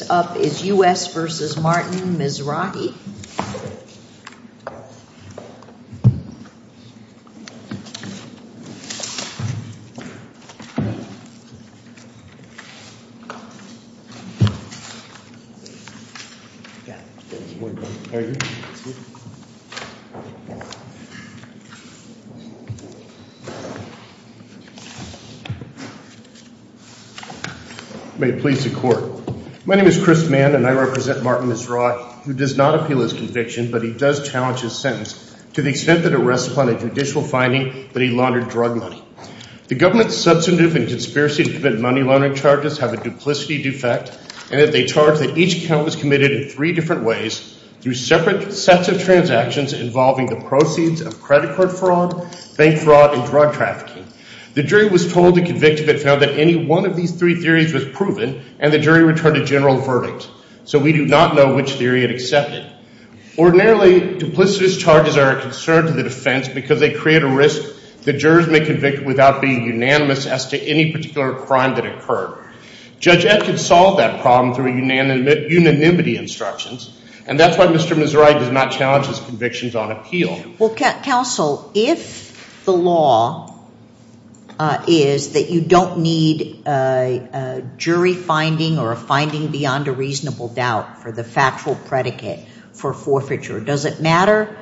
Next up is U.S. v. Martin Mizrahi. May it please the Court. My name is Chris Mann and I represent Martin Mizrahi, who does not appeal his conviction but he does challenge his sentence to the extent that it rests upon a judicial finding that he laundered drug money. The government's substantive and conspiracy to commit money laundering charges have a duplicity defect in that they charge that each count was committed in three different ways through separate sets of transactions involving the proceeds of credit card fraud, bank fraud, and drug trafficking. The jury was told to convict if it found that any one of these three theories was proven and the jury returned a general verdict. So we do not know which theory it accepted. Ordinarily, duplicitous charges are a concern to the defense because they create a risk that jurors may convict without being unanimous as to any particular crime that occurred. Judge Ed can solve that problem through unanimity instructions and that's why Mr. Mizrahi does not challenge his convictions on appeal. Counsel, if the law is that you don't need a jury finding or a finding beyond a reasonable doubt for the factual predicate for forfeiture, does it matter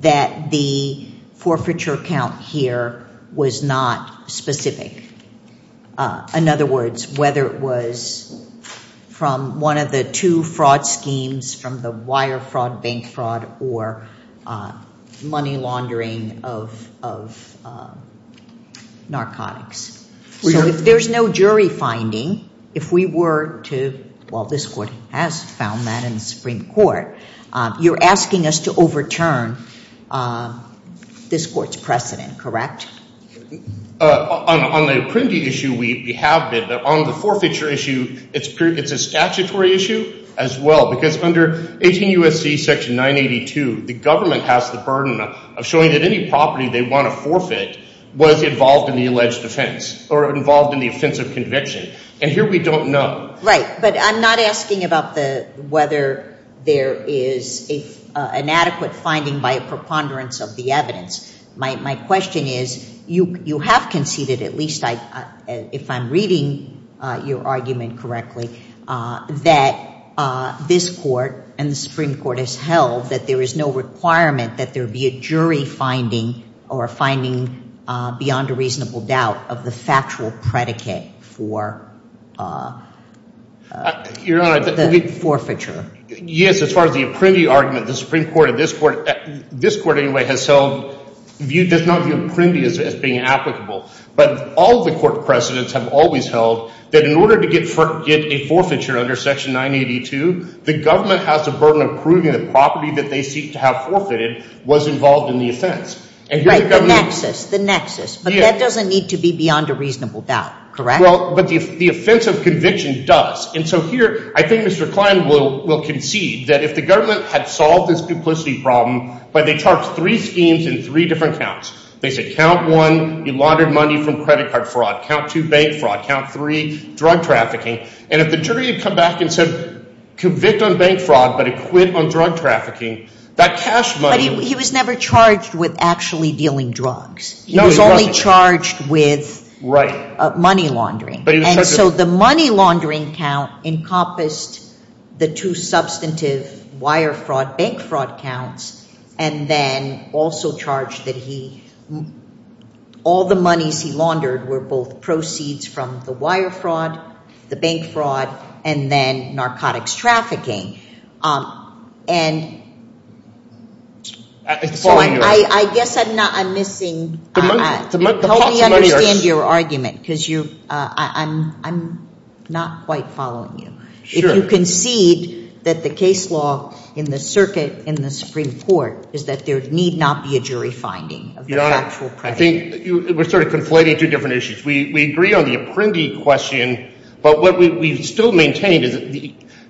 that the forfeiture count here was not specific? In other words, whether it was from one of the two fraud schemes from the wire fraud, bank fraud, or money laundering of narcotics. So if there's no jury finding, if we were to, well this court has found that in the Supreme Court, you're asking us to overturn this court's precedent, correct? On the printing issue, we have been, but on the forfeiture issue, it's a statutory issue as well. Because under 18 U.S.C. section 982, the government has the burden of showing that any property they want to forfeit was involved in the alleged offense or involved in the offense of conviction. And here we don't know. Right, but I'm not asking about whether there is an adequate finding by a preponderance of the evidence. My question is, you have conceded, at least if I'm reading your argument correctly, that this court and the Supreme Court has held that there is no requirement that there be a jury finding or a finding beyond a reasonable doubt of the factual predicate for the forfeiture. Yes, as far as the apprendi argument, the Supreme Court and this court, this court anyway has held, does not view apprendi as being applicable. But all of the court precedents have always held that in order to get a forfeiture under section 982, the government has the burden of proving the property that they seek to have forfeited was involved in the offense. Right, the nexus, the nexus. But that doesn't need to be beyond a reasonable doubt, correct? Well, but the offense of conviction does. And so here, I think Mr. Klein will concede that if the government had solved this duplicity problem by they charged three schemes in three different counts, they said count one, you laundered money from credit card fraud. Count two, bank fraud. Count three, drug trafficking. And if the jury had come back and said, convict on bank fraud, but acquit on drug trafficking, that cash money would be. But he was never charged with actually dealing drugs. No, he wasn't. He was only charged with money laundering. And so the money laundering count encompassed the two substantive wire fraud, bank fraud counts, and then also charged that he, all the monies he laundered were both proceeds from the wire fraud, the bank fraud, and then narcotics trafficking. And I guess I'm missing. Help me understand your argument, because I'm not quite following you. If you concede that the case law in the circuit in the Supreme Court is that there need not be a jury finding of the actual. Your Honor, I think we're sort of conflating two different issues. We agree on the apprendee question, but what we still maintain is that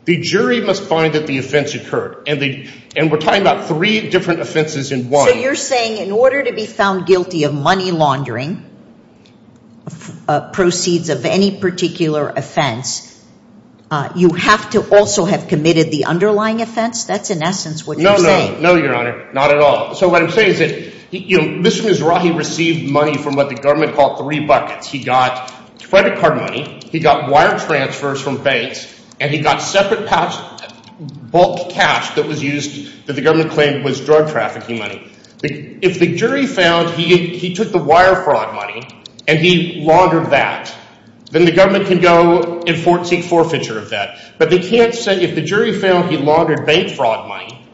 the jury must find that the offense occurred. And we're talking about three different offenses in one. So you're saying in order to be found guilty of money laundering, proceeds of any particular offense, you have to also have committed the underlying offense? That's in essence what you're saying. No, Your Honor. Not at all. So what I'm saying is that Mr. Mizrahi received money from what the government called three buckets. He got credit card money, he got wire transfers from banks, and he got separate bulk cash that was used that the government claimed was drug trafficking money. If the jury found he took the wire fraud money and he laundered that, then the government can go and seek forfeiture of that. But they can't say if the jury found he laundered bank fraud money,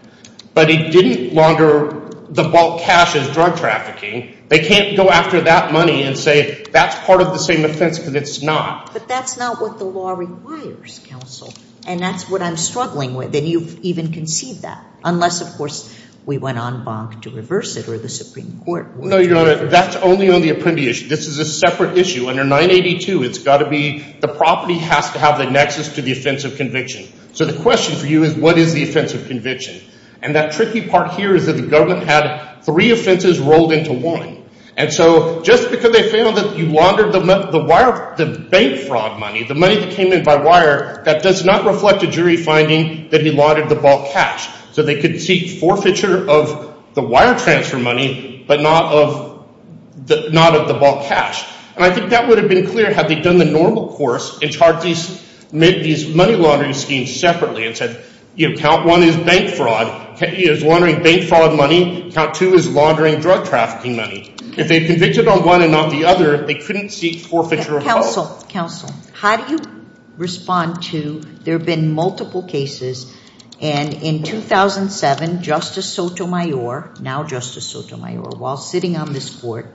but he didn't launder the bulk cash as drug trafficking, they can't go after that money and say that's part of the same offense because it's not. But that's not what the law requires, counsel. And that's what I'm struggling with. And you've even conceded that, unless, of course, we went on bonk to reverse it or the Supreme Court would. No, Your Honor. That's only on the apprendee issue. This is a separate issue. Under 982, it's got to be the property has to have the nexus to the offense of conviction. So the question for you is what is the offense of conviction? And that tricky part here is that the government had three offenses rolled into one. And so just because they found that he laundered the bank fraud money, the money that came in by wire, that does not reflect a jury finding that he laundered the bulk cash. So they could seek forfeiture of the wire transfer money but not of the bulk cash. And I think that would have been clear had they done the normal course and charged these money laundering schemes separately and said, you know, count one is bank fraud. He is laundering bank fraud money. Count two is laundering drug trafficking money. If they convicted on one and not the other, they couldn't seek forfeiture of both. Counsel, counsel, how do you respond to there have been multiple cases and in 2007 Justice Sotomayor, now Justice Sotomayor, while sitting on this court,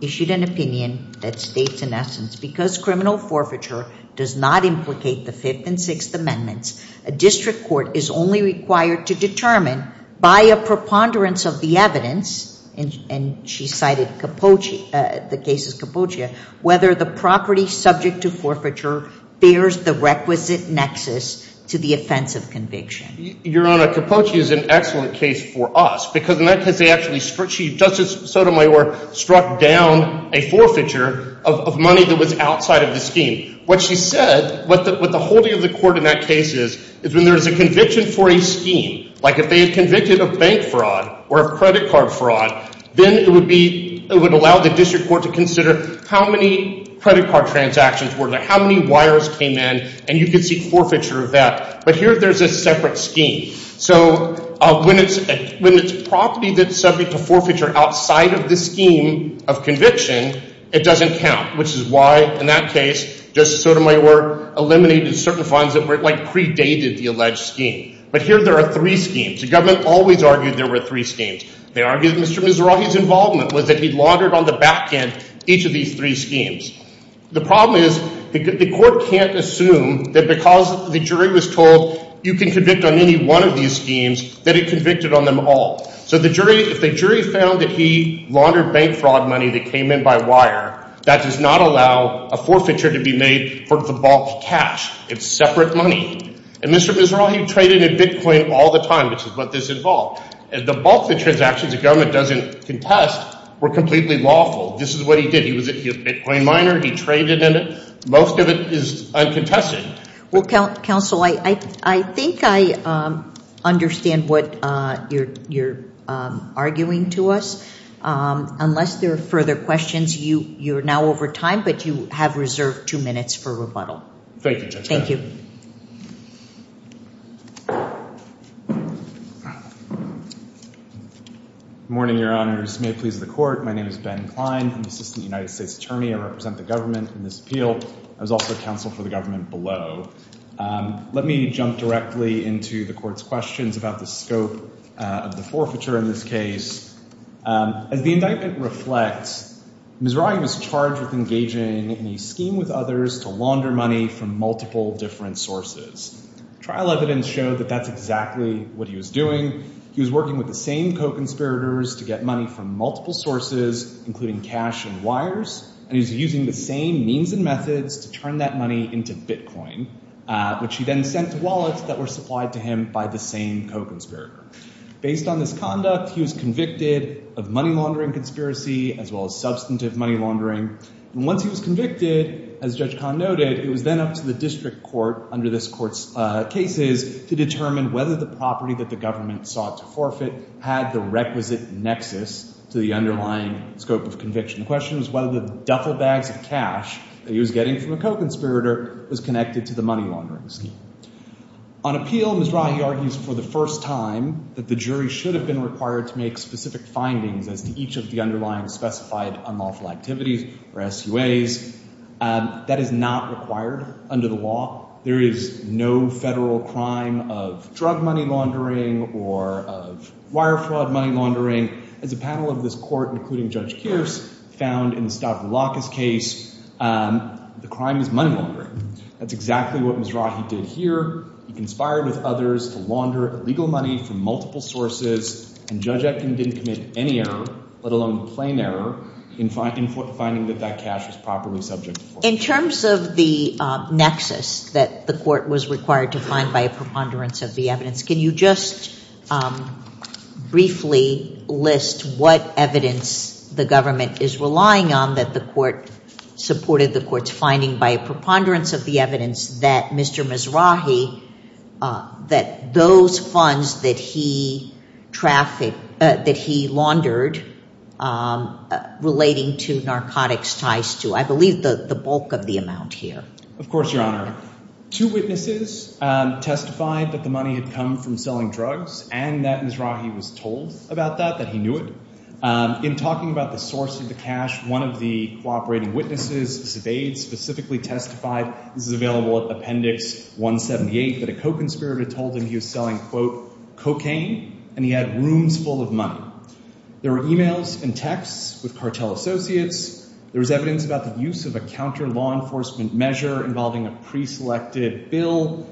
issued an opinion that states, in essence, because criminal forfeiture does not implicate the Fifth and Sixth Amendments, a district court is only required to determine by a preponderance of the evidence, and she cited Capoce, the case of Capoce, whether the property subject to forfeiture bears the requisite nexus to the offense of conviction. Your Honor, Capoce is an excellent case for us because in that case they actually struck, Justice Sotomayor struck down a forfeiture of money that was outside of the scheme. What she said, what the holding of the court in that case is, is when there is a conviction for a scheme, like if they had convicted of bank fraud or of credit card fraud, then it would be, it would allow the district court to consider how many credit card transactions were there, how many wires came in, and you could seek forfeiture of that. But here there's a separate scheme. So when it's property that's subject to forfeiture outside of the scheme of conviction, it doesn't count, which is why in that case Justice Sotomayor eliminated certain funds that were like predated the alleged scheme. But here there are three schemes. The government always argued there were three schemes. They argued that Mr. Mizrahi's involvement was that he laundered on the back end each of these three schemes. The problem is the court can't assume that because the jury was told you can convict on any one of these schemes, that it convicted on them all. So the jury, if the jury found that he laundered bank fraud money that came in by wire, that does not allow a forfeiture to be made for the bulk cash. It's separate money. And Mr. Mizrahi traded in Bitcoin all the time, which is what this involved. The bulk of the transactions the government doesn't contest were completely lawful. This is what he did. He was a Bitcoin miner. He traded in it. Most of it is uncontested. Well, counsel, I think I understand what you're arguing to us. Unless there are further questions, you're now over time, but you have reserved two minutes for rebuttal. Thank you, Justice Sotomayor. Thank you. Good morning, Your Honors. May it please the court. My name is Ben Klein. I'm the Assistant United States Attorney. I represent the government in this appeal. I was also counsel for the government below. Let me jump directly into the court's questions about the scope of the forfeiture in this case. As the indictment reflects, Mizrahi was charged with engaging in a scheme with others to launder money from multiple different sources. Trial evidence showed that that's exactly what he was doing. He was working with the same co-conspirators to get money from multiple sources, including cash and wires, and he was using the same means and methods to turn that money into Bitcoin, which he then sent to wallets that were supplied to him by the same co-conspirator. Based on this conduct, he was convicted of money laundering conspiracy as well as substantive money laundering. And once he was convicted, as Judge Kahn noted, it was then up to the district court under this court's cases to determine whether the property that the government sought to forfeit had the requisite nexus to the underlying scope of conviction. The question was whether the duffel bags of cash that he was getting from a co-conspirator was connected to the money laundering scheme. On appeal, Mizrahi argues for the first time that the jury should have been required to make specific findings as to each of the underlying specified unlawful activities or SUAs. That is not required under the law. There is no federal crime of drug money laundering or of wire fraud money laundering. As a panel of this court, including Judge Kearse, found in the Stavroulakis case, the crime is money laundering. That's exactly what Mizrahi did here. He conspired with others to launder illegal money from multiple sources, and Judge Etkin didn't commit any error, let alone a plain error, in finding that that cash was properly subject to forfeiture. In terms of the nexus that the court was required to find by a preponderance of the evidence, can you just briefly list what evidence the government is relying on that the court supported the court's finding by a preponderance of the evidence that Mr. Mizrahi, that those funds that he trafficked, that he laundered relating to narcotics ties to, I believe, the bulk of the amount here? Of course, Your Honor. Two witnesses testified that the money had come from selling drugs and that Mizrahi was told about that, that he knew it. In talking about the source of the cash, one of the cooperating witnesses, Sevaid, specifically testified, this is available at Appendix 178, that a co-conspirator told him he was selling, quote, cocaine and he had rooms full of money. There were e-mails and texts with cartel associates. There was evidence about the use of a counter law enforcement measure involving a preselected bill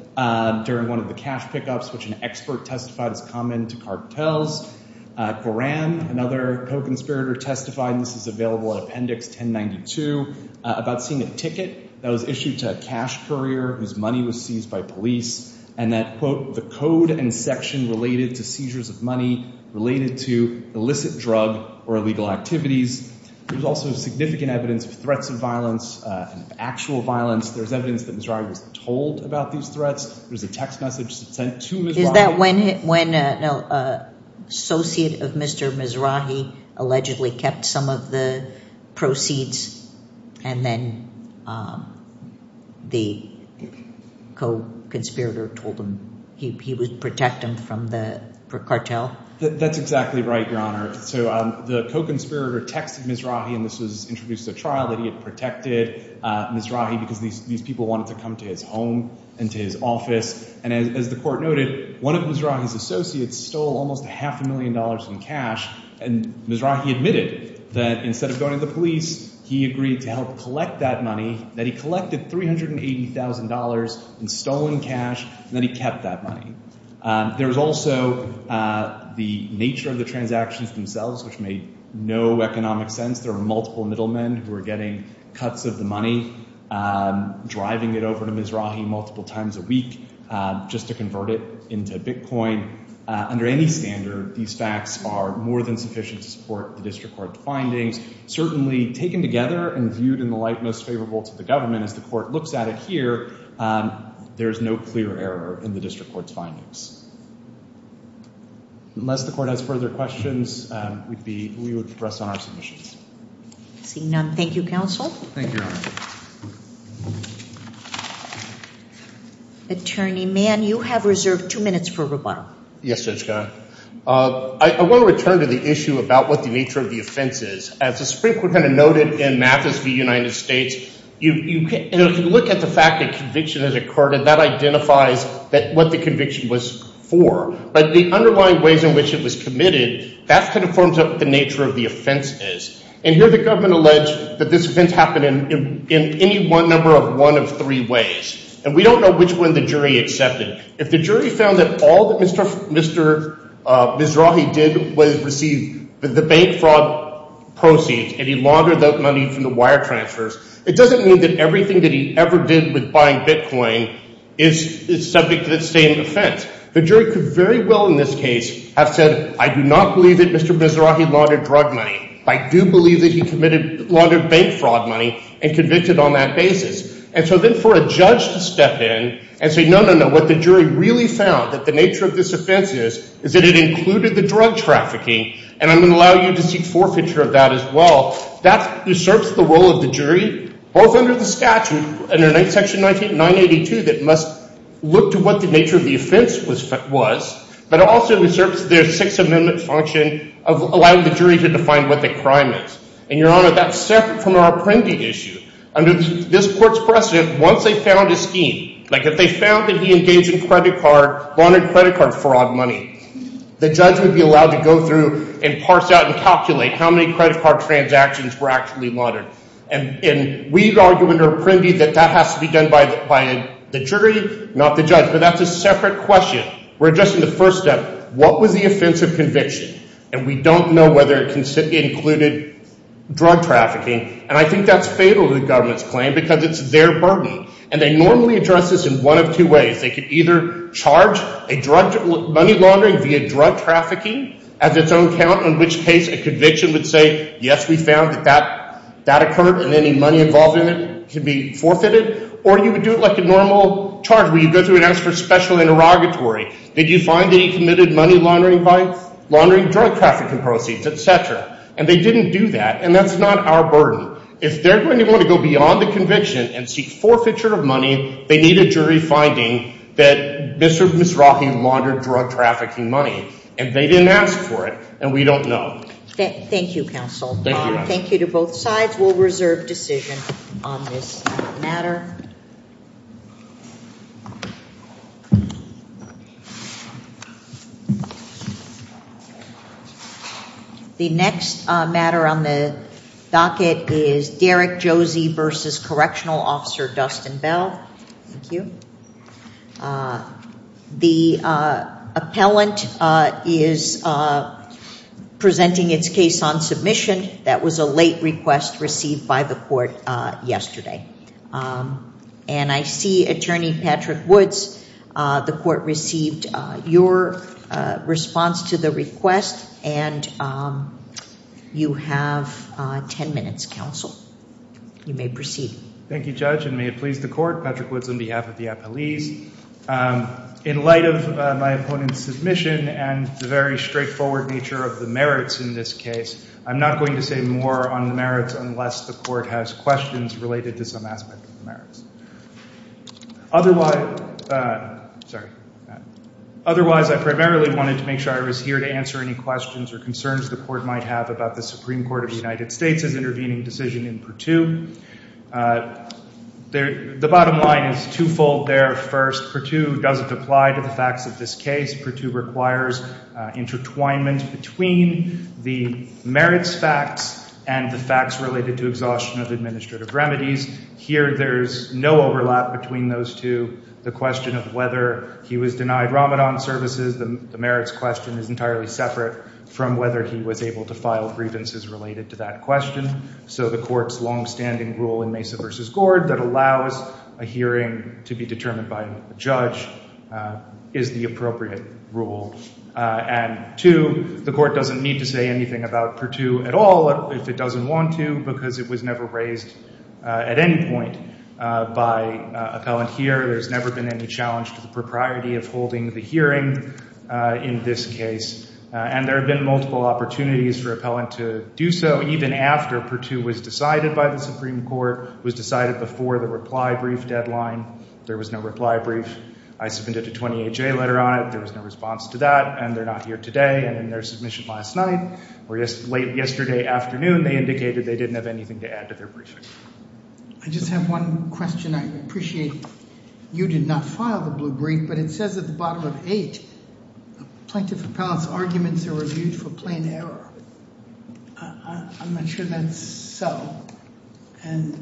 during one of the cash pickups, which an expert testified is common to cartels. Coram, another co-conspirator testified, and this is available at Appendix 1092, about seeing a ticket that was issued to a cash courier whose money was seized by police and that, quote, the code and section related to seizures of money related to illicit drug or illegal activities. There was also significant evidence of threats of violence and actual violence. There was evidence that Mizrahi was told about these threats. There was a text message sent to Mizrahi. Is that when an associate of Mr. Mizrahi allegedly kept some of the proceeds and then the co-conspirator told him he would protect him from the cartel? That's exactly right, Your Honor. So the co-conspirator texted Mizrahi, and this was introduced at trial, that he had protected Mizrahi because these people wanted to come to his home and to his office. And as the court noted, one of Mizrahi's associates stole almost half a million dollars in cash, and Mizrahi admitted that instead of going to the police, he agreed to help collect that money, that he collected $380,000 in stolen cash, and that he kept that money. There was also the nature of the transactions themselves, which made no economic sense. There were multiple middlemen who were getting cuts of the money, driving it over to Mizrahi multiple times a week just to convert it into bitcoin. Under any standard, these facts are more than sufficient to support the district court's findings. Certainly taken together and viewed in the light most favorable to the government, as the court looks at it here, there is no clear error in the district court's findings. Unless the court has further questions, we would progress on our submissions. Seeing none, thank you, counsel. Thank you, Your Honor. Attorney Mann, you have reserved two minutes for rebuttal. Yes, Judge Kahn. I want to return to the issue about what the nature of the offense is. As the Supreme Court noted in Mathis v. United States, if you look at the fact that conviction has occurred, that identifies what the conviction was for. But the underlying ways in which it was committed, that kind of forms out what the nature of the offense is. And here the government alleged that this offense happened in any number of one of three ways. And we don't know which one the jury accepted. If the jury found that all that Mr. Mizrahi did was receive the bank fraud proceeds, and he laundered that money from the wire transfers, it doesn't mean that everything that he ever did with buying bitcoin is subject to the same offense. The jury could very well, in this case, have said, I do not believe that Mr. Mizrahi laundered drug money. I do believe that he committed laundered bank fraud money and convicted on that basis. And so then for a judge to step in and say, no, no, no, what the jury really found, that the nature of this offense is, is that it included the drug trafficking, and I'm going to allow you to seek forfeiture of that as well, that usurps the role of the jury, both under the statute, under Section 982 that must look to what the nature of the offense was, but also usurps their Sixth Amendment function of allowing the jury to define what the crime is. And, Your Honor, that's separate from our Apprendi issue. Under this court's precedent, once they found a scheme, like if they found that he engaged in credit card, laundered credit card fraud money, the judge would be allowed to go through and parse out and calculate how many credit card transactions were actually laundered. And we argue under Apprendi that that has to be done by the jury, not the judge. But that's a separate question. We're addressing the first step. What was the offense of conviction? And we don't know whether it included drug trafficking, and I think that's fatal to the government's claim because it's their burden. And they normally address this in one of two ways. They could either charge a drug money laundering via drug trafficking as its own count, in which case a conviction would say, yes, we found that that occurred, and any money involved in it can be forfeited, or you would do it like a normal charge where you go through and ask for special interrogatory. Did you find that he committed money laundering, drug trafficking proceeds, et cetera? And they didn't do that, and that's not our burden. If they're going to want to go beyond the conviction and seek forfeiture of money, they need a jury finding that Mr. or Ms. Rahim laundered drug trafficking money, and they didn't ask for it, and we don't know. Thank you, counsel. Thank you, Your Honor. The sides will reserve decision on this matter. The next matter on the docket is Derek Josey v. Correctional Officer Dustin Bell. Thank you. The appellant is presenting its case on submission. That was a late request received by the court yesterday. And I see Attorney Patrick Woods. The court received your response to the request, and you have 10 minutes, counsel. You may proceed. Thank you, Judge, and may it please the court. Patrick Woods on behalf of the appellees. In light of my opponent's submission and the very straightforward nature of the merits in this case, I'm not going to say more on the merits unless the court has questions related to some aspect of the merits. Otherwise, I primarily wanted to make sure I was here to answer any questions or concerns the court might have about the Supreme Court of the United States's intervening decision in Purtue. The bottom line is twofold there. First, Purtue doesn't apply to the facts of this case. Purtue requires intertwinement between the merits facts and the facts related to exhaustion of administrative remedies. Here, there's no overlap between those two. The question of whether he was denied Ramadan services, the merits question, is entirely separate from whether he was able to file grievances related to that question. So the court's longstanding rule in Mesa v. Gord that allows a hearing to be determined by a judge is the appropriate rule. And two, the court doesn't need to say anything about Purtue at all if it doesn't want to, because it was never raised at any point by appellant here. There's never been any challenge to the propriety of holding the hearing in this case. And there have been multiple opportunities for appellant to do so, even after Purtue was decided by the Supreme Court, was decided before the reply brief deadline. There was no reply brief. I submitted a 28-J letter on it. There was no response to that, and they're not here today. And in their submission last night or late yesterday afternoon, they indicated they didn't have anything to add to their briefing. I just have one question. I appreciate you did not file the blue brief, but it says at the bottom of eight, Plaintiff appellant's arguments are reviewed for plain error. I'm not sure that's so. And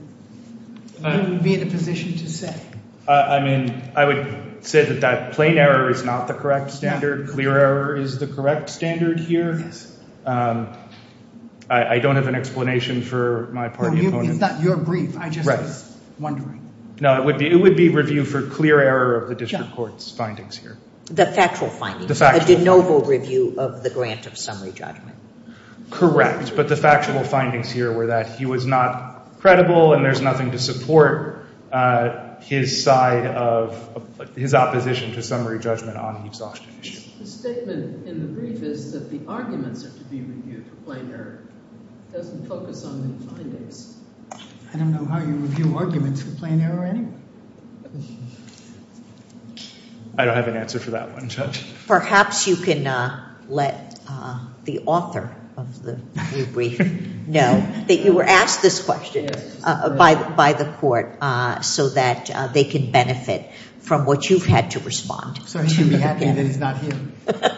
who would be in a position to say? I mean, I would say that that plain error is not the correct standard. Clear error is the correct standard here. Yes. I don't have an explanation for my party opponents. It's not your brief. I just was wondering. No, it would be review for clear error of the district court's findings here. The factual findings. The factual findings. A de noble review of the grant of summary judgment. Correct. But the factual findings here were that he was not credible, and there's nothing to support his side of his opposition to summary judgment on the exhaustion issue. The statement in the brief is that the arguments are to be reviewed for plain error. It doesn't focus on the findings. I don't know how you review arguments for plain error anyway. I don't have an answer for that one, Judge. Perhaps you can let the author of the review brief know that you were asked this question by the court so that they can benefit from what you've had to respond. So he should be happy that he's not here.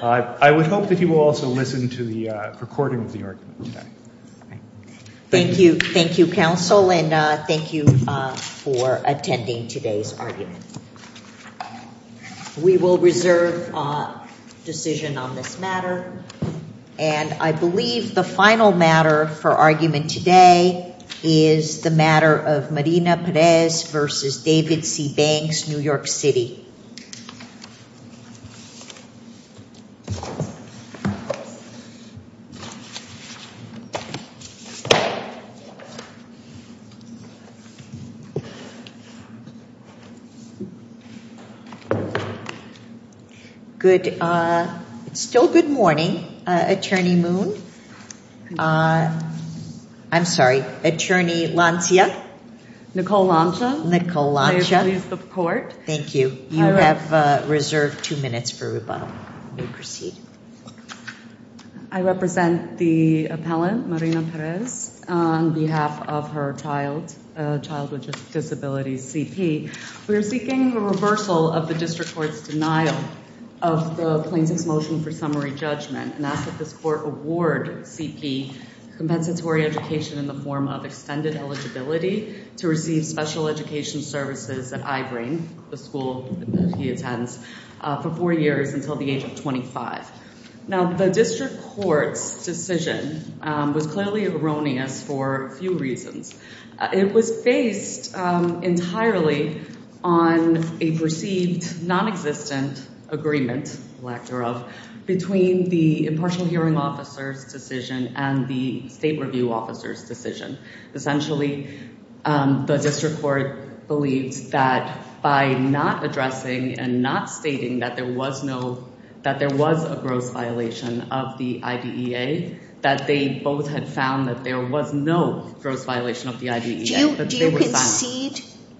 I would hope that he will also listen to the recording of the argument today. Thank you. Thank you, counsel, and thank you for attending today's argument. We will reserve decision on this matter, and I believe the final matter for argument today is the matter of Marina Perez v. David C. Banks, New York City. Thank you. It's still good morning, Attorney Moon. I'm sorry, Attorney Lancia. Nicole Lancia. Nicole Lancia. May I please report? Thank you. You have reserved two minutes for rebuttal. You may proceed. I represent the appellant, Marina Perez, on behalf of her child, a child with disabilities, C.P. We are seeking a reversal of the district court's denial of the plaintiff's motion for summary judgment and ask that this court award C.P. compensatory education in the form of extended eligibility to receive special education services at iBrain, the school that he attends, for four years until the age of 25. Now, the district court's decision was clearly erroneous for a few reasons. It was based entirely on a perceived nonexistent agreement, lack thereof, between the impartial hearing officer's decision and the state review officer's decision. Essentially, the district court believes that by not addressing and not stating that there was no, that there was a gross violation of the IDEA, that they both had found that there was no gross violation of the IDEA.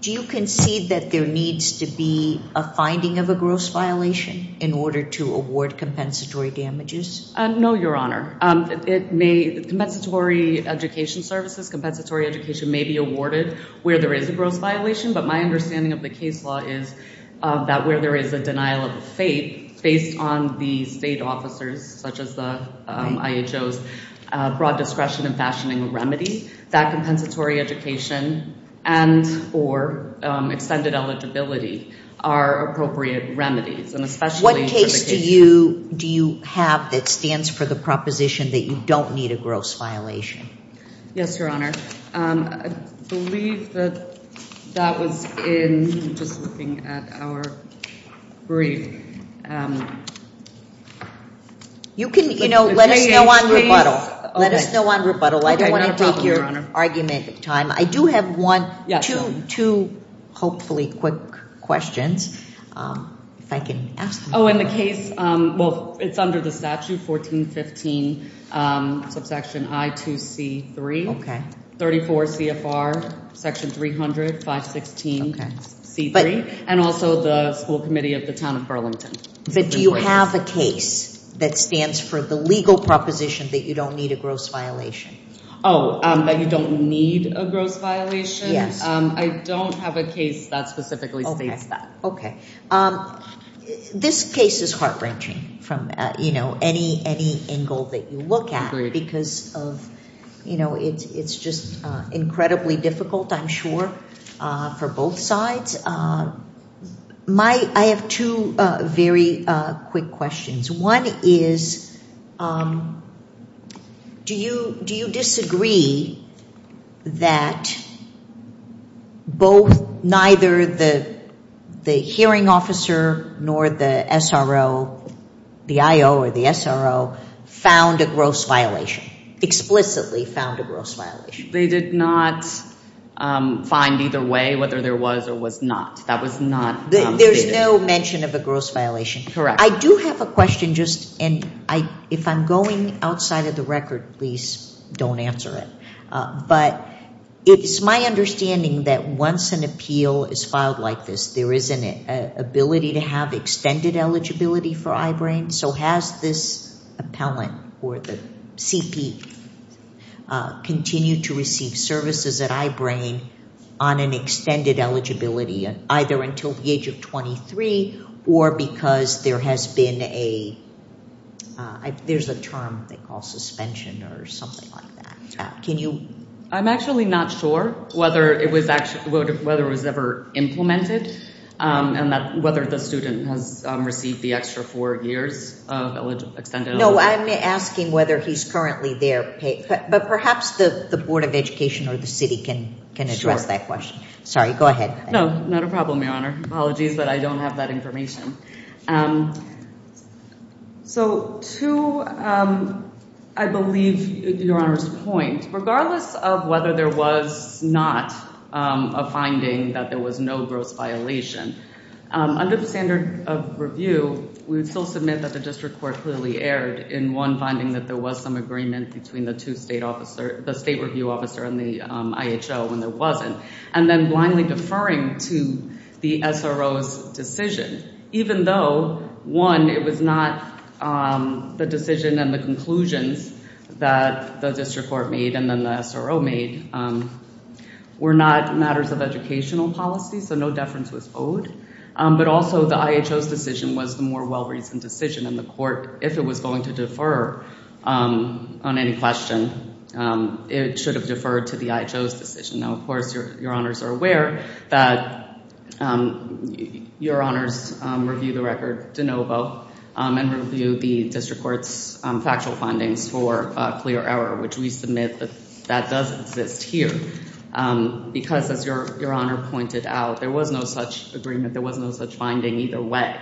Do you concede that there needs to be a finding of a gross violation in order to award compensatory damages? No, Your Honor. Compensatory education services, compensatory education may be awarded where there is a gross violation, but my understanding of the case law is that where there is a denial of the fate, based on the state officers, such as the IHO's broad discretion in fashioning remedies, that compensatory education and or extended eligibility are appropriate remedies. What case do you have that stands for the proposition that you don't need a gross violation? Yes, Your Honor. I believe that that was in, just looking at our brief. You can, you know, let us know on rebuttal. Let us know on rebuttal. I don't want to take your argument time. I do have one, two, hopefully quick questions. If I can ask them. Oh, in the case, well, it's under the statute, 1415 subsection I2C3, 34 CFR section 300, 516C3, and also the school committee of the town of Burlington. But do you have a case that stands for the legal proposition that you don't need a gross violation? Oh, that you don't need a gross violation? Yes. I don't have a case that specifically states that. Okay. This case is heart-wrenching from, you know, any angle that you look at because of, you know, it's just incredibly difficult, I'm sure, for both sides. My, I have two very quick questions. One is, do you disagree that both, neither the hearing officer nor the SRO, the IO or the SRO, found a gross violation, explicitly found a gross violation? They did not find either way whether there was or was not. That was not stated. There's no mention of a gross violation? Correct. I do have a question just, and if I'm going outside of the record, please don't answer it. But it's my understanding that once an appeal is filed like this, there is an ability to have extended eligibility for I-BRAIN. So has this appellant or the CP continued to receive services at I-BRAIN on an extended eligibility, either until the age of 23 or because there has been a, there's a term they call suspension or something like that. Can you? I'm actually not sure whether it was ever implemented and whether the student has received the extra four years of extended eligibility. No, I'm asking whether he's currently there. But perhaps the Board of Education or the city can address that question. Sure. I'm sorry, go ahead. No, not a problem, Your Honor. Apologies, but I don't have that information. So to, I believe, Your Honor's point, regardless of whether there was not a finding that there was no gross violation, under the standard of review, we would still submit that the district court clearly erred in one finding that there was some agreement between the two state officer, the state review officer and the IHO when there wasn't, and then blindly deferring to the SRO's decision, even though, one, it was not the decision and the conclusions that the district court made and then the SRO made were not matters of educational policy, so no deference was owed, but also the IHO's decision was the more well-reasoned decision, and the court, if it was going to defer on any question, it should have deferred to the IHO's decision. Now, of course, Your Honors are aware that Your Honors reviewed the record de novo and reviewed the district court's factual findings for clear error, which we submit that that does exist here, because as Your Honor pointed out, there was no such agreement, there was no such finding either way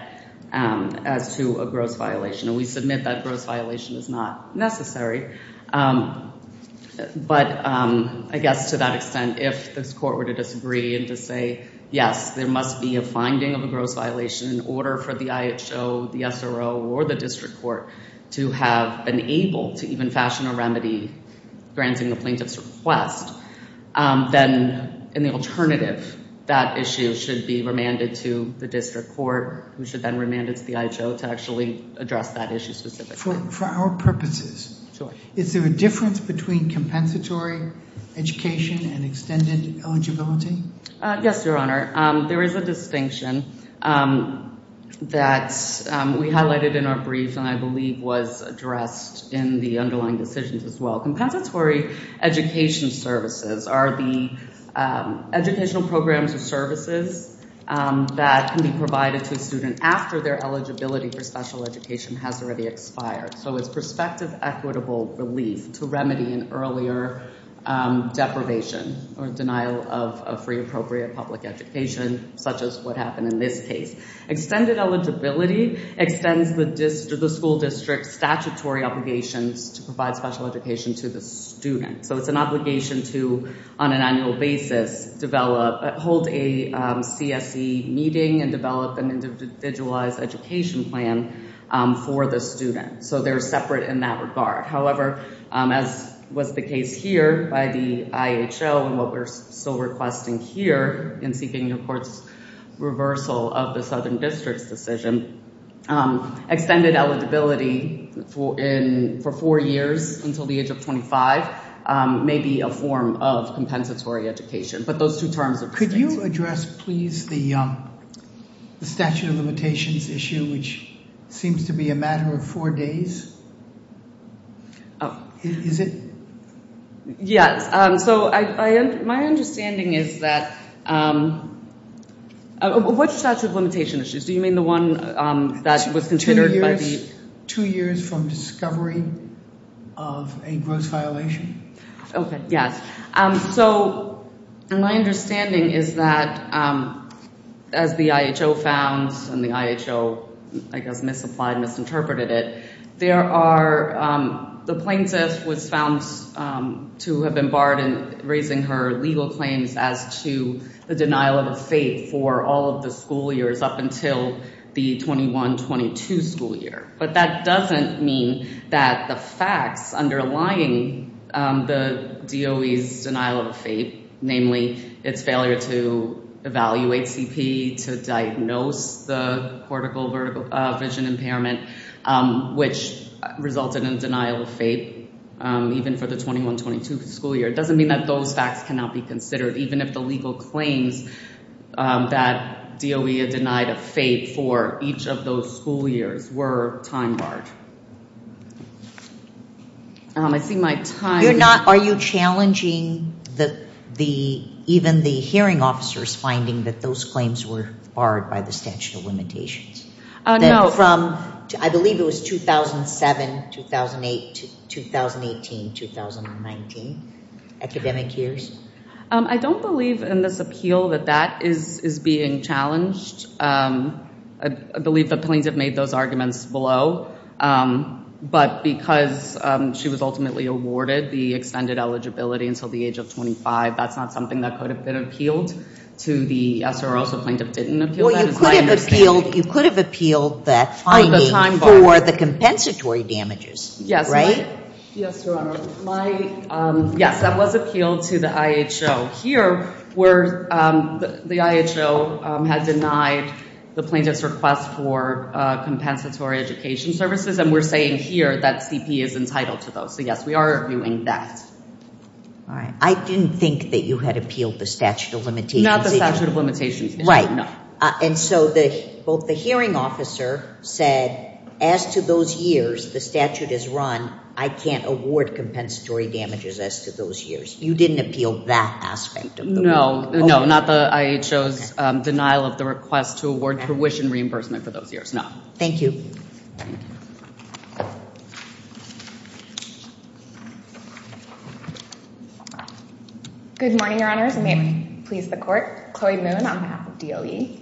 as to a gross violation, and we submit that gross violation is not necessary. But I guess to that extent, if this court were to disagree and to say, yes, there must be a finding of a gross violation in order for the IHO, the SRO, or the district court to have been able to even fashion a remedy granting the plaintiff's request, then in the alternative, that issue should be remanded to the district court, who should then remand it to the IHO to actually address that issue specifically. For our purposes, is there a difference between compensatory education and extended eligibility? Yes, Your Honor. There is a distinction that we highlighted in our brief and I believe was addressed in the underlying decisions as well. Compensatory education services are the educational programs or services that can be provided to a student after their eligibility for special education has already expired. So it's prospective equitable relief to remedy an earlier deprivation or denial of free appropriate public education, such as what happened in this case. Extended eligibility extends the school district's statutory obligations to provide special education to the student. So it's an obligation to, on an annual basis, hold a CSE meeting and develop an individualized education plan for the student. So they're separate in that regard. However, as was the case here by the IHO and what we're still requesting here in seeking the court's reversal of the Southern District's decision, extended eligibility for four years until the age of 25 may be a form of compensatory education. But those two terms are distinct. Could you address, please, the statute of limitations issue, which seems to be a matter of four days? Is it? Yes. So my understanding is that... What's the statute of limitation issues? Do you mean the one that was considered by the... Two years from discovery of a gross violation. Okay. Yes. So my understanding is that, as the IHO found and the IHO, I guess, misapplied, misinterpreted it, the plaintiff was found to have been barred in raising her legal claims as to the denial of a fate for all of the school years up until the 21-22 school year. But that doesn't mean that the facts underlying the DOE's denial of a fate, namely its failure to evaluate CP, to diagnose the cortical vision impairment, which resulted in denial of fate even for the 21-22 school year, doesn't mean that those facts cannot be considered, even if the legal claims that DOE had denied a fate for each of those school years were time-barred. I see my time... Are you challenging even the hearing officer's finding that those claims were barred by the statute of limitations? No. So from, I believe it was 2007, 2008, 2018, 2019, academic years? I don't believe in this appeal that that is being challenged. I believe the plaintiff made those arguments below. But because she was ultimately awarded the extended eligibility until the age of 25, that's not something that could have been appealed to the SRO, so plaintiff didn't appeal that. Well, you could have appealed the finding for the compensatory damages, right? Yes, Your Honor. Yes, that was appealed to the IHO. Here, the IHO had denied the plaintiff's request for compensatory education services, and we're saying here that CP is entitled to those. So, yes, we are arguing that. All right. I didn't think that you had appealed the statute of limitations issue. Not the statute of limitations issue, no. And so both the hearing officer said, as to those years the statute is run, I can't award compensatory damages as to those years. You didn't appeal that aspect of the ruling? No, not the IHO's denial of the request to award tuition reimbursement for those years, no. Thank you. Good morning, Your Honors. May it please the Court. Chloe Moon on behalf of DOE.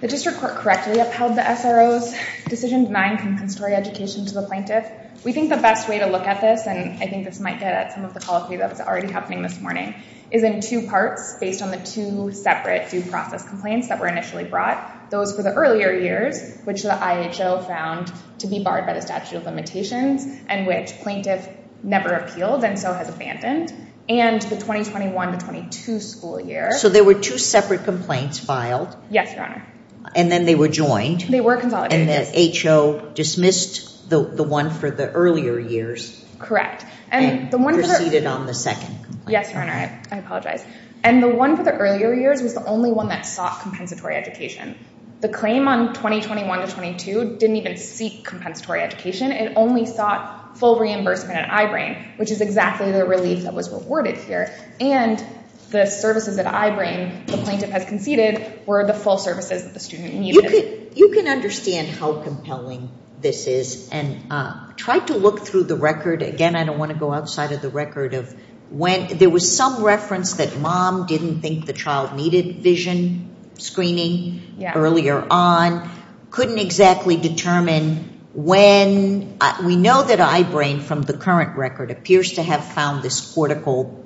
The District Court correctly upheld the SRO's decision denying compensatory education to the plaintiff. We think the best way to look at this, and I think this might get at some of the policy that was already happening this morning, is in two parts based on the two separate due process complaints that were initially brought, those for the earlier years, which the IHO found to be barred by the statute of limitations and which plaintiff never appealed and so has abandoned, and the 2021-22 school year. So there were two separate complaints filed? Yes, Your Honor. And then they were joined? They were consolidated. And the IHO dismissed the one for the earlier years? Correct. And proceeded on the second complaint? Yes, Your Honor. I apologize. And the one for the earlier years was the only one that sought compensatory education. The claim on 2021-22 didn't even seek compensatory education. It only sought full reimbursement at I-BRAIN, which is exactly the relief that was rewarded here. And the services at I-BRAIN the plaintiff has conceded were the full services that the student needed. You can understand how compelling this is. And try to look through the record. Again, I don't want to go outside of the record of when. There was some reference that mom didn't think the child needed vision screening earlier on, couldn't exactly determine when. We know that I-BRAIN from the current record appears to have found this cortical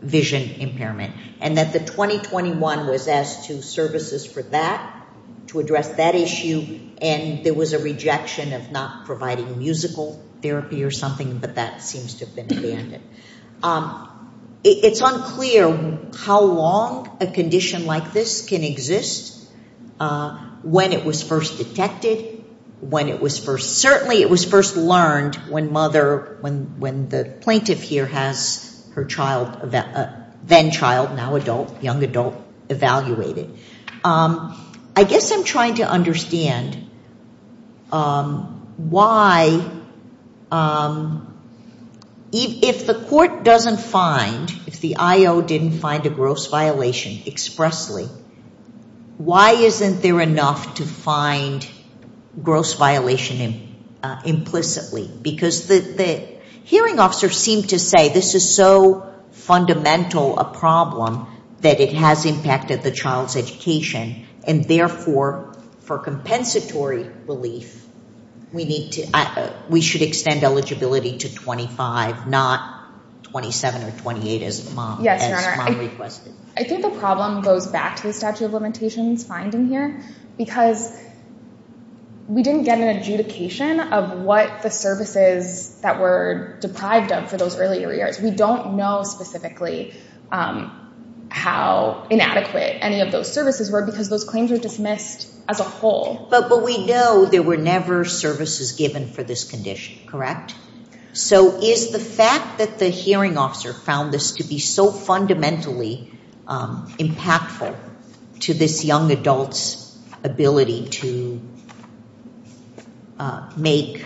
vision impairment. And that the 2021 was asked to services for that, to address that issue. And there was a rejection of not providing musical therapy or something, but that seems to have been abandoned. It's unclear how long a condition like this can exist. When it was first detected, when it was first, certainly it was first learned when mother, when the plaintiff here has her child, then child, now adult, young adult evaluated. I guess I'm trying to understand why if the court doesn't find, if the I-O didn't find a gross violation expressly, why isn't there enough to find gross violation implicitly? Because the hearing officer seemed to say this is so fundamental a problem that it has impacted the child's education. And therefore, for compensatory relief, we should extend eligibility to 25, not 27 or 28 as mom requested. I think the problem goes back to the statute of limitations finding here. Because we didn't get an adjudication of what the services that were deprived of for those earlier years. We don't know specifically how inadequate any of those services were because those claims were dismissed as a whole. But we know there were never services given for this condition, correct? So is the fact that the hearing officer found this to be so fundamentally impactful to this young adult's ability to make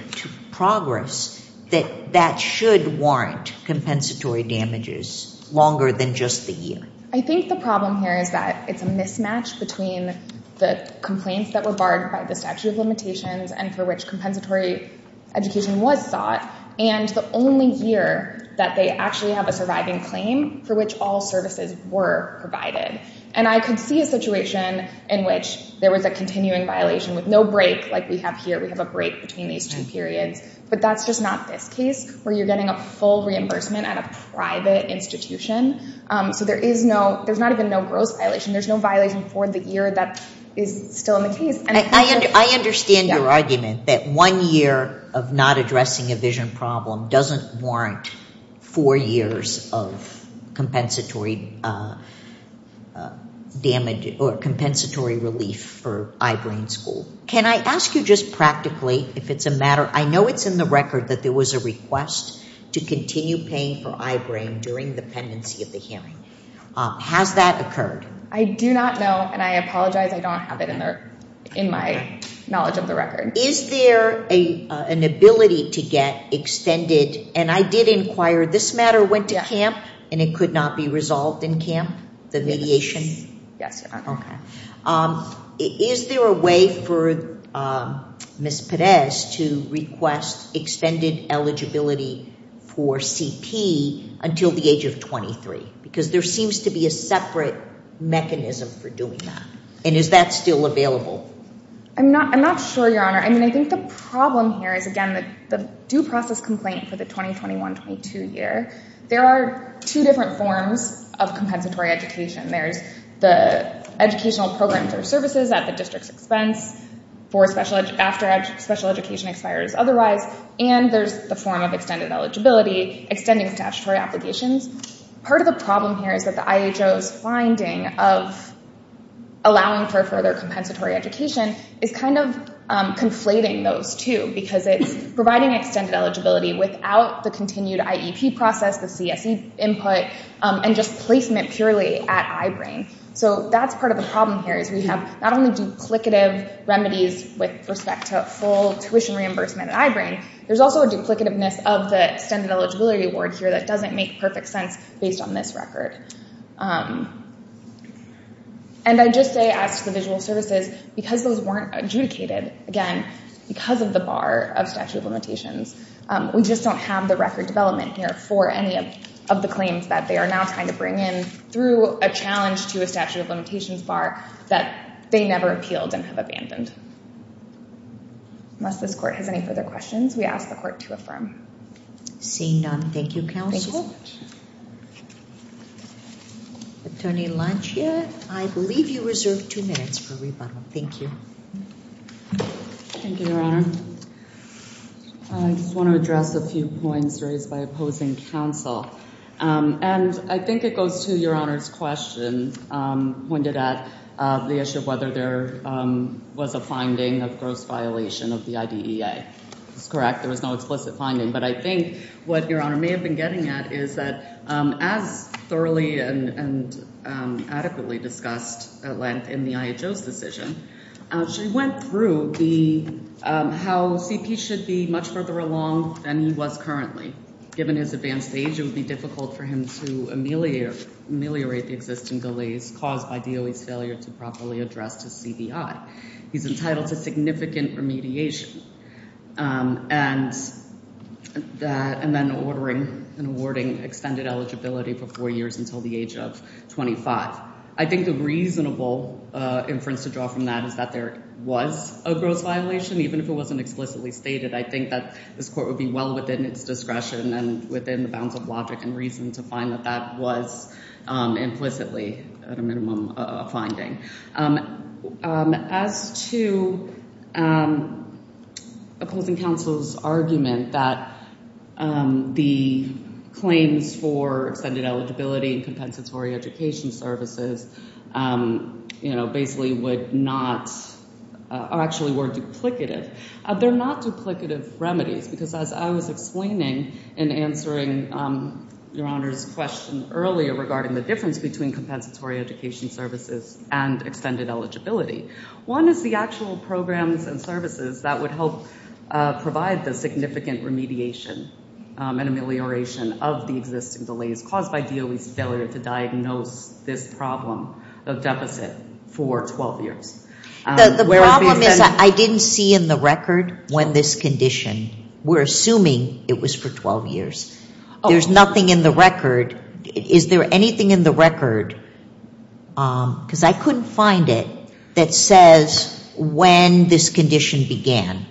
progress, that that should warrant compensatory damages longer than just the year? I think the problem here is that it's a mismatch between the complaints that were barred by the statute of limitations and for which compensatory education was sought, and the only year that they actually have a surviving claim for which all services were provided. And I could see a situation in which there was a continuing violation with no break like we have here. We have a break between these two periods. But that's just not this case where you're getting a full reimbursement at a private institution. So there's not even no gross violation. There's no violation for the year that is still in the case. I understand your argument that one year of not addressing a vision problem doesn't warrant four years of compensatory damage or compensatory relief for eye-brain school. Can I ask you just practically if it's a matter? I know it's in the record that there was a request to continue paying for eye-brain during the pendency of the hearing. Has that occurred? I do not know, and I apologize. I don't have it in my knowledge of the record. Is there an ability to get extended? And I did inquire. This matter went to camp, and it could not be resolved in camp, the mediation? Yes. Okay. Is there a way for Ms. Pérez to request extended eligibility for CP until the age of 23? Because there seems to be a separate mechanism for doing that. And is that still available? I'm not sure, Your Honor. I mean, I think the problem here is, again, the due process complaint for the 2021-22 year. There are two different forms of compensatory education. There's the educational programs or services at the district's expense after special education expires otherwise, and there's the form of extended eligibility, extending statutory obligations. Part of the problem here is that the IHO's finding of allowing for further compensatory education is kind of conflating those two, because it's providing extended eligibility without the continued IEP process, the CSE input, and just placement purely at I-BRAIN. So that's part of the problem here is we have not only duplicative remedies with respect to full tuition reimbursement at I-BRAIN, there's also a duplicativeness of the extended eligibility award here that doesn't make perfect sense based on this record. And I just say, as to the visual services, because those weren't adjudicated, again, because of the bar of statute of limitations, we just don't have the record development here for any of the claims that they are now trying to bring in through a challenge to a statute of limitations bar that they never appealed and have abandoned. Unless this court has any further questions, we ask the court to affirm. Seeing none, thank you, counsel. Thank you so much. Attorney Lancia, I believe you reserve two minutes for rebuttal. Thank you. Thank you, Your Honor. I just want to address a few points raised by opposing counsel. And I think it goes to Your Honor's question pointed at the issue of whether there was a finding of gross violation of the IDEA. That's correct, there was no explicit finding. But I think what Your Honor may have been getting at is that, as thoroughly and adequately discussed at length in the IHO's decision, she went through how CP should be much further along than he was currently. Given his advanced age, it would be difficult for him to ameliorate the existing delays caused by DOE's failure to properly address his CBI. He's entitled to significant remediation. And then ordering and awarding extended eligibility for four years until the age of 25. I think the reasonable inference to draw from that is that there was a gross violation, even if it wasn't explicitly stated. I think that this court would be well within its discretion and within the bounds of logic and reason to find that that was implicitly, at a minimum, a finding. As to opposing counsel's argument that the claims for extended eligibility and compensatory education services, you know, basically would not, or actually were duplicative. They're not duplicative remedies, because as I was explaining in answering Your Honor's question earlier regarding the difference between compensatory education services and extended eligibility. One is the actual programs and services that would help provide the significant remediation and amelioration of the existing delays caused by DOE's failure to diagnose this problem of deficit for 12 years. The problem is that I didn't see in the record when this condition, we're assuming it was for 12 years. There's nothing in the record. Is there anything in the record, because I couldn't find it, that says when this condition began?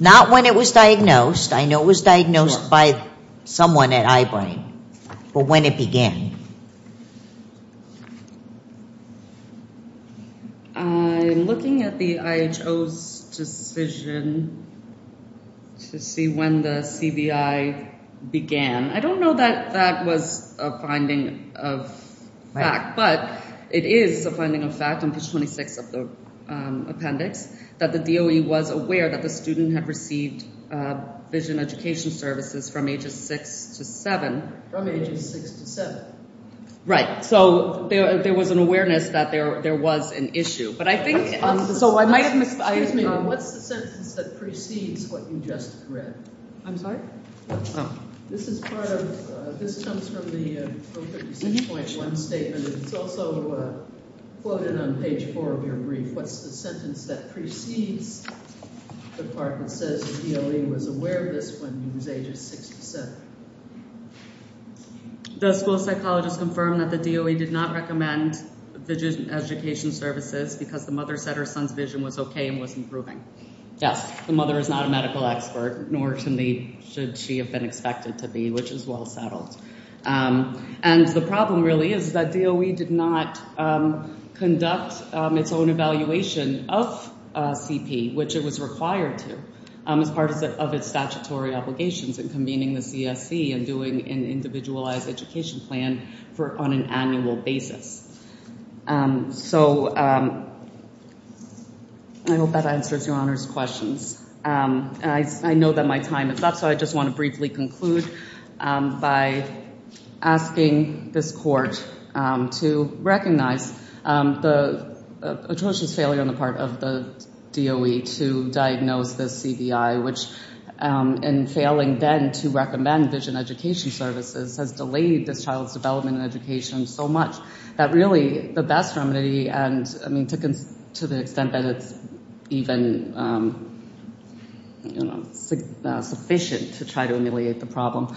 Not when it was diagnosed. I know it was diagnosed by someone at Eyebrine. But when it began? I'm looking at the IHO's decision to see when the CBI began. I don't know that that was a finding of fact, but it is a finding of fact in page 26 of the appendix that the DOE was aware that the student had received vision education services from ages 6 to 7. From ages 6 to 7. Right. So there was an awareness that there was an issue. But I think... So I might have missed... Excuse me. What's the sentence that precedes what you just read? I'm sorry? Oh. This is part of... This comes from the Pro 56.1 statement. It's also quoted on page 4 of your brief. What's the sentence that precedes the part that says the DOE was aware of this when he was ages 6 to 7? The school psychologist confirmed that the DOE did not recommend vision education services because the mother said her son's vision was okay and was improving. Yes. The mother is not a medical expert, nor should she have been expected to be, which is well settled. And the problem really is that DOE did not conduct its own evaluation of CP, which it was required to, as part of its statutory obligations in convening the CSC and doing an individualized education plan on an annual basis. So I hope that answers your honors questions. I know that my time is up, so I just want to briefly conclude by asking this court to recognize the atrocious failure on the part of the DOE to diagnose this CBI, which in failing then to recommend vision education services has delayed this child's development and education so much that really the best remedy... To the extent that it's even sufficient to try to ameliorate the problem,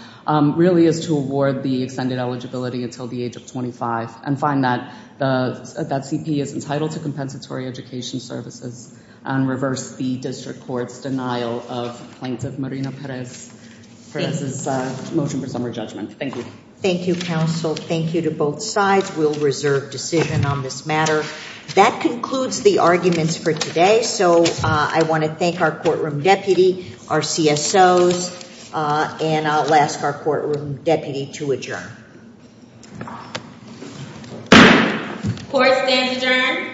really is to award the extended eligibility until the age of 25 and find that CP is entitled to compensatory education services and reverse the district court's denial of plaintiff Marina Perez's motion for summary judgment. Thank you. Thank you, counsel. Thank you to both sides. We'll reserve decision on this matter. That concludes the arguments for today. So I want to thank our courtroom deputy, our CSOs, and I'll ask our courtroom deputy to adjourn. Court stands adjourned. Thank you.